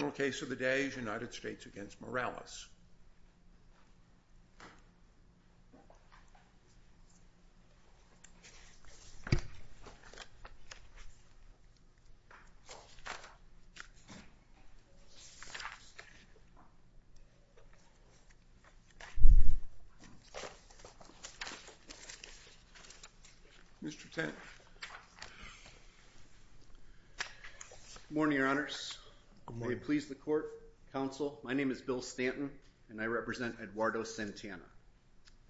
The case of the day is United States v. Morales. Mr. Tent. Good morning, your honors. May it please the court, counsel. My name is Bill Stanton and I represent Eduardo Santana.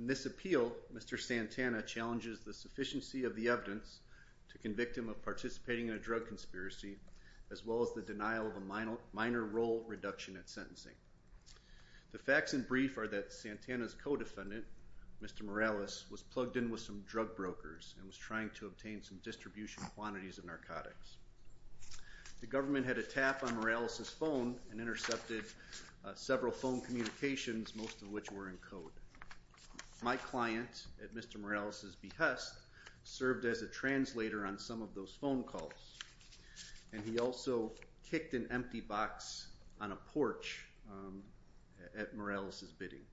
In this appeal, Mr. Santana challenges the sufficiency of the evidence to convict him of participating in a drug conspiracy as well as the denial of a minor minor role reduction at sentencing. The facts in brief are that Santana's co-defendant, Mr. Morales, was plugged in with some drug brokers and was trying to obtain some distribution quantities of narcotics. The government had a tap on Morales' phone and intercepted several phone communications, most of which were in code. My client, at Mr. Morales' behest, served as a translator on some of those phone calls, and he also kicked an empty box on a porch at Morales' bidding.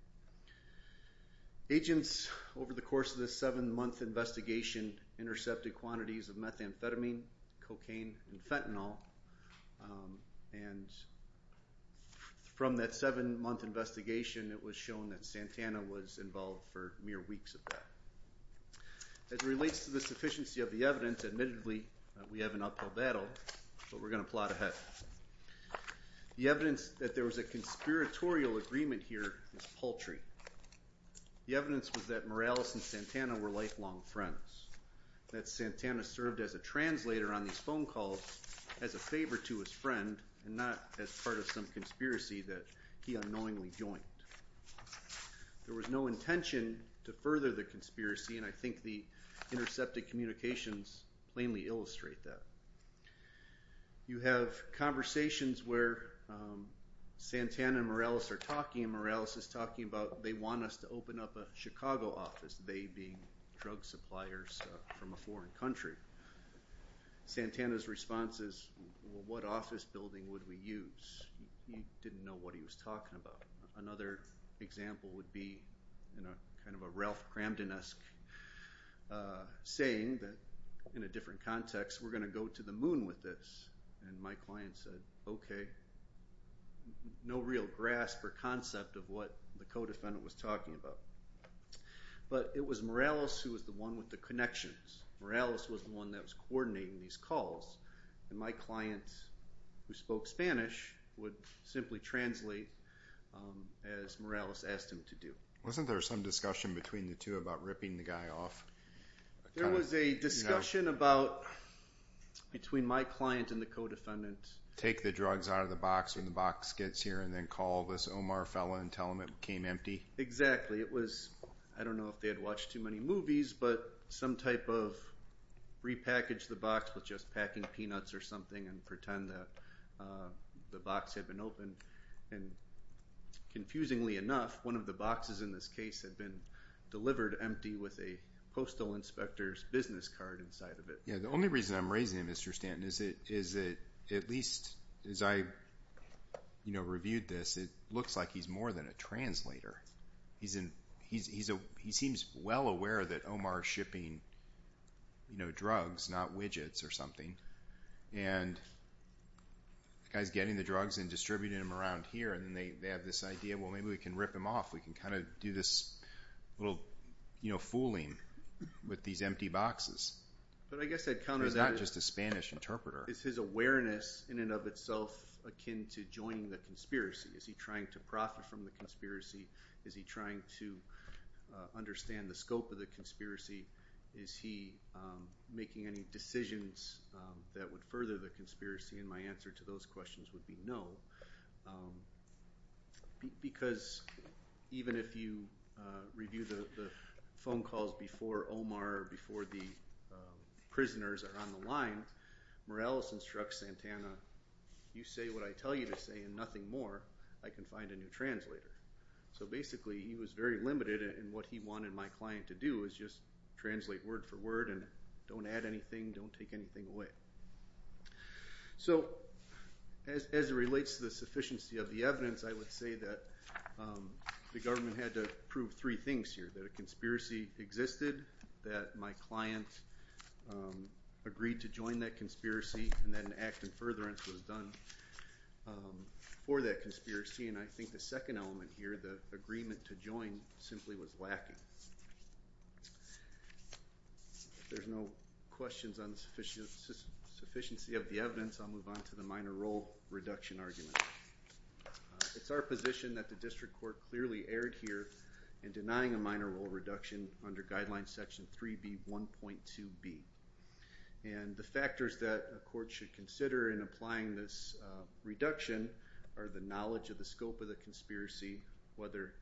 Agents, over the course of this seven-month investigation, intercepted quantities of methamphetamine, cocaine, and fentanyl, and from that seven-month investigation, it was shown that Santana was involved for mere weeks of that. As it relates to the sufficiency of the evidence, admittedly, we have an uphill battle, but we're going to plot ahead. The re was a conspiratorial agreement here that was paltry. The evidence was that Morales and Santana were lifelong friends, that Santana served as a translator on these phone calls as a favor to his friend and not as part of some conspiracy that he unknowingly joined. There was no intention to further the conspiracy, and I think the intercepted communications plainly illustrate that. You have conversations where Santana and Morales are talking, and Morales is talking about, they want us to open up a Chicago office, they being drug suppliers from a foreign country. Santana's response is, well, what office building would we use? He didn't know what he was talking about. Another example would be kind of a Cramdon-esque saying that, in a different context, we're going to go to the moon with this, and my client said, okay. No real grasp or concept of what the co-defendant was talking about, but it was Morales who was the one with the connections. Morales was the one that was coordinating these calls, and my client, who spoke Spanish, would simply translate as Morales asked him to do. Wasn't there some discussion between the two about ripping the guy off? There was a discussion about, between my client and the co-defendant. Take the drugs out of the box when the box gets here and then call this Omar fella and tell him it became empty? Exactly. It was, I don't know if they had watched too many movies, but some type of repackage the box with just packing peanuts or something and pretend that the box had been opened, and confusingly enough, one of the boxes in this case had been delivered empty with a postal inspector's business card inside of it. The only reason I'm raising him, Mr. Stanton, is that, at least as I reviewed this, it looks like he's more than a translator. He seems well aware that Omar is shipping drugs, not widgets or something, and the guy's getting the drugs and distributing them around here and they have this idea, well maybe we can rip him off. We can kind of do this little fooling with these empty boxes. But I guess I'd counter that. He's not just a Spanish interpreter. Is his awareness, in and of itself, akin to joining the conspiracy? Is he trying to profit from the conspiracy? Is he trying to understand the scope of the conspiracy? Is he making any decisions that would further the conspiracy? And my answer to those questions would be no, because even if you review the phone calls before Omar or before the prisoners are on the line, Morales instructs Santana, you say what I tell you to say and nothing more. I can find a new translator. So basically he was very limited in what he wanted my client to do, was just translate word for word and don't add anything, don't take anything away. So as it relates to the sufficiency of the evidence, I would say that the government had to prove three things here, that a conspiracy existed, that my client agreed to join that conspiracy, and that an act in furtherance was done for that conspiracy. And I think the second element here, the agreement to join, simply was lacking. If there's no questions on the sufficiency of the evidence, I'll move on to the minor role reduction argument. It's our position that the district court clearly erred here in denying a minor role reduction under Guideline Section 3B1.2b. And the factors that a court should consider in applying this reduction are the knowledge of the scope of the conspiracy, whether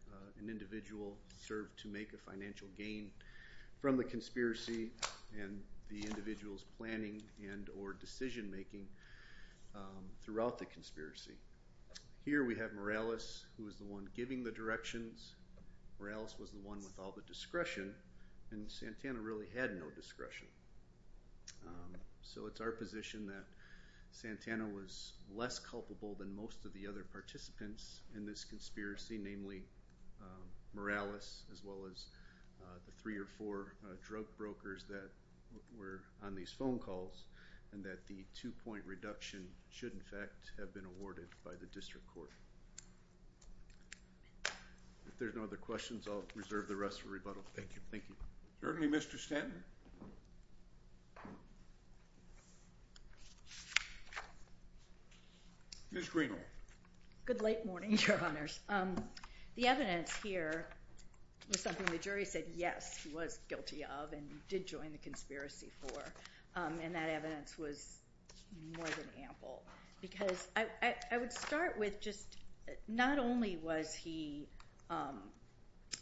an individual served to make a financial gain from the conspiracy, and the individual's planning and or decision making throughout the conspiracy. Here we have Morales, who was the one giving the directions. Morales was the one with all the discretion, and Santana really had no discretion. So it's our position that Santana was less culpable than most of the other participants in this conspiracy, namely Morales, as well as the three or four drug brokers that were on these phone calls, and that the two-point reduction should in fact have been awarded by the district court. If there's no other questions, I'll reserve the rest for rebuttal. Thank you. Certainly, Mr. Stanton. Ms. Greenle. Good late morning, Your Honors. The evidence here was something the jury said, yes, he was guilty of and did join the conspiracy for. And that evidence was more than ample. Because I would start with just, not only was he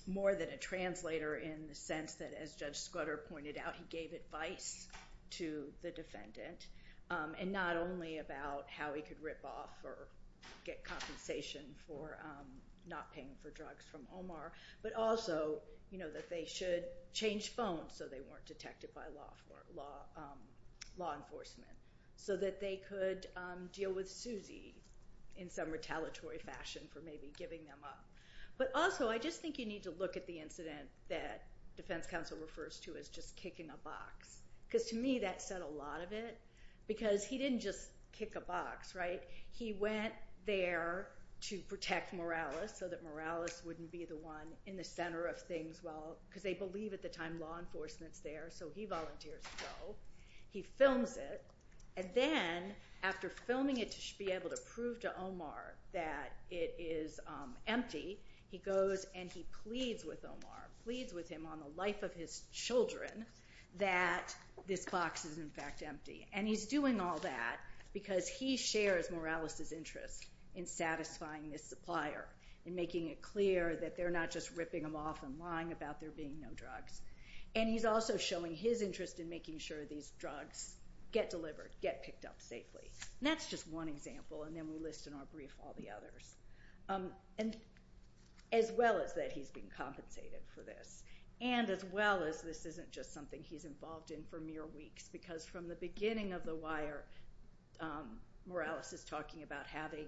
more than a translator in the sense that, as Judge Scudder pointed out, he gave advice to the defendant, and not only about how he could rip off or get compensation for not paying for drugs from Omar, but also that they should change phones so they weren't detected by law enforcement, so that they could deal with Suzy in some retaliatory fashion for maybe giving them up. But also, I just think you need to look at the incident that defense counsel refers to as just kicking a box. Because to me, that said a lot of it. Because he didn't just kick a box, right? He went there to protect Morales, so that Morales wouldn't be the one in the center of things, because they believe at the time law enforcement's there, so he volunteers to go. He films it. And then, after filming it to be able to prove to Omar that it is empty, he goes and he pleads with Omar, pleads with him on the life of his children, that this box is in fact empty. And he's doing all that because he shares Morales' interest in satisfying his supplier, in making it clear that they're not just ripping them off and lying about there being no drugs. And he's also showing his interest in making sure these drugs get delivered, get picked up safely. And that's just one example, and then we'll list in our brief all the others. And as well as that he's been compensated for this. And as well as this isn't just something he's involved in for mere weeks, because from the beginning of The Wire, Morales is talking about having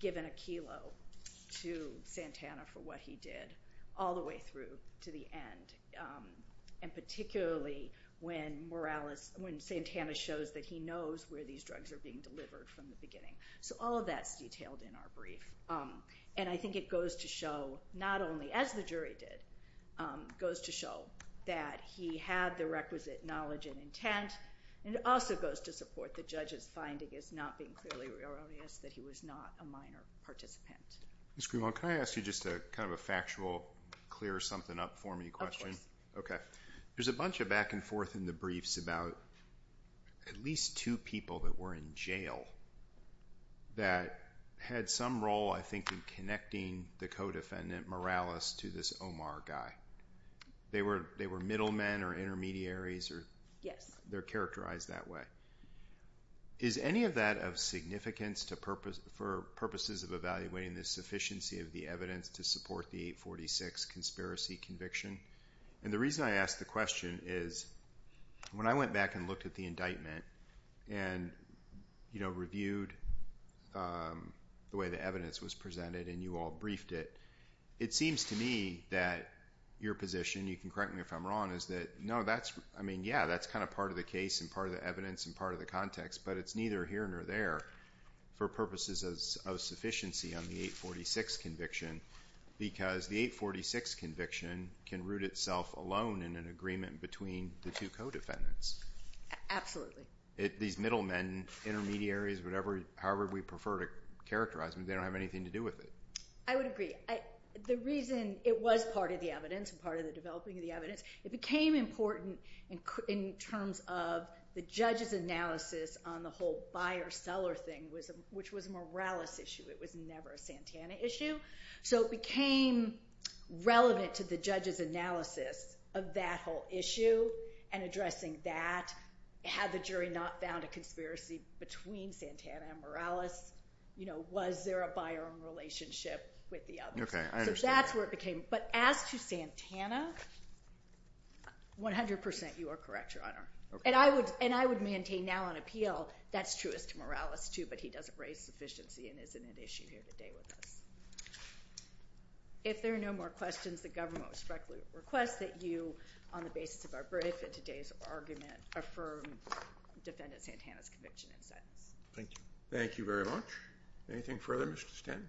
given a kilo to Santana for what he did all the way through to the end. And particularly when Morales, when Santana shows that he knows where these drugs are being delivered from the beginning. So all of that's detailed in our brief. And I think it goes to show not only, as the jury did, goes to show that he had the requisite knowledge and intent, and it also goes to support the judge's finding as not being clearly real obvious that he was not a minor participant. Mr. Grimaldi, can I ask you just kind of a factual, clear something up for me question? Okay. There's a bunch of back and forth in the briefs about at least two people that were in jail that had some role, I think, in connecting the co-defendant, Morales, to this Omar guy. They were middlemen or intermediaries. Yes. They're characterized that way. Is any of that of significance for purposes of evaluating the sufficiency of the evidence to support the 846 conspiracy conviction? And the reason I ask the question is when I went back and looked at the indictment and reviewed the way the evidence was presented and you all briefed it, it seems to me that your position, you can correct me if I'm wrong, is that, no, that's, I mean, yeah, that's kind of part of the case and part of the evidence and part of the context, but it's neither here nor there for purposes of sufficiency on the 846 conviction because the 846 conviction can root itself alone in an agreement between the two co-defendants. Absolutely. These middlemen, intermediaries, whatever, however we prefer to characterize them, they don't have anything to do with it. I would agree. The reason it was part of the evidence and part of the developing of the evidence, it became important in terms of the judge's analysis on the whole buyer-seller thing, which was a Morales issue. It was never a Santana issue. So it became relevant to the judge's analysis of that whole issue and addressing that. Had the jury not found a conspiracy between Santana and Morales, you know, was there a buyer-owned relationship with the others? Okay, I understand. So that's where it became. But as to Santana, 100% you are correct, Your Honor. Okay. And I would maintain now on appeal that's true as to Morales too, but he doesn't raise sufficiency and isn't an issue here today with us. If there are no more questions, the government respectfully requests that you, on the basis of our brief and today's argument, affirm Defendant Santana's conviction in sentence. Thank you. Thank you very much. Anything further, Mr. Stanton?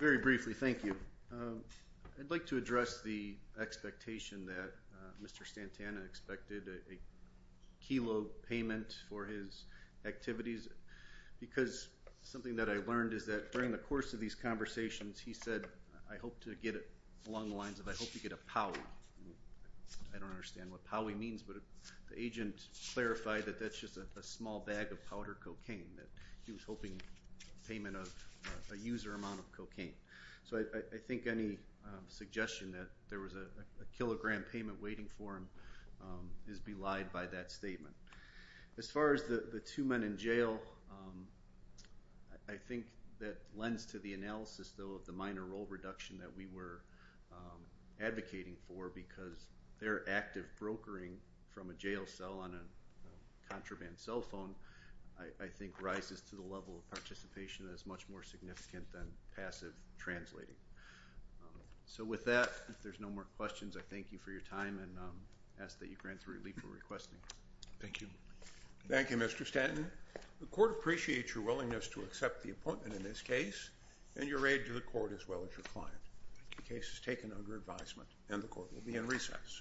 Very briefly, thank you. I'd like to address the expectation that Mr. Santana expected a kilo payment for his activities because something that I learned is that during the course of these conversations, he said, I hope to get it along the lines of, I hope you get a powy. I don't understand what powy means, but the agent clarified that that's just a small bag of water cocaine that he was hoping payment of a user amount of cocaine. So I think any suggestion that there was a kilogram payment waiting for him is belied by that statement. As far as the two men in jail, I think that lends to the analysis, though, of the minor role reduction that we were advocating for because they're active brokering from a jail cell on a contraband cell phone. I think rises to the level of participation that is much more significant than passive translating. So with that, if there's no more questions, I thank you for your time and ask that you grant the relief you're requesting. Thank you. Thank you, Mr. Stanton. The court appreciates your willingness to accept the appointment in this case and your aid to the court as well as your client. The case is taken under advisement and the court will be in recess. Thank you.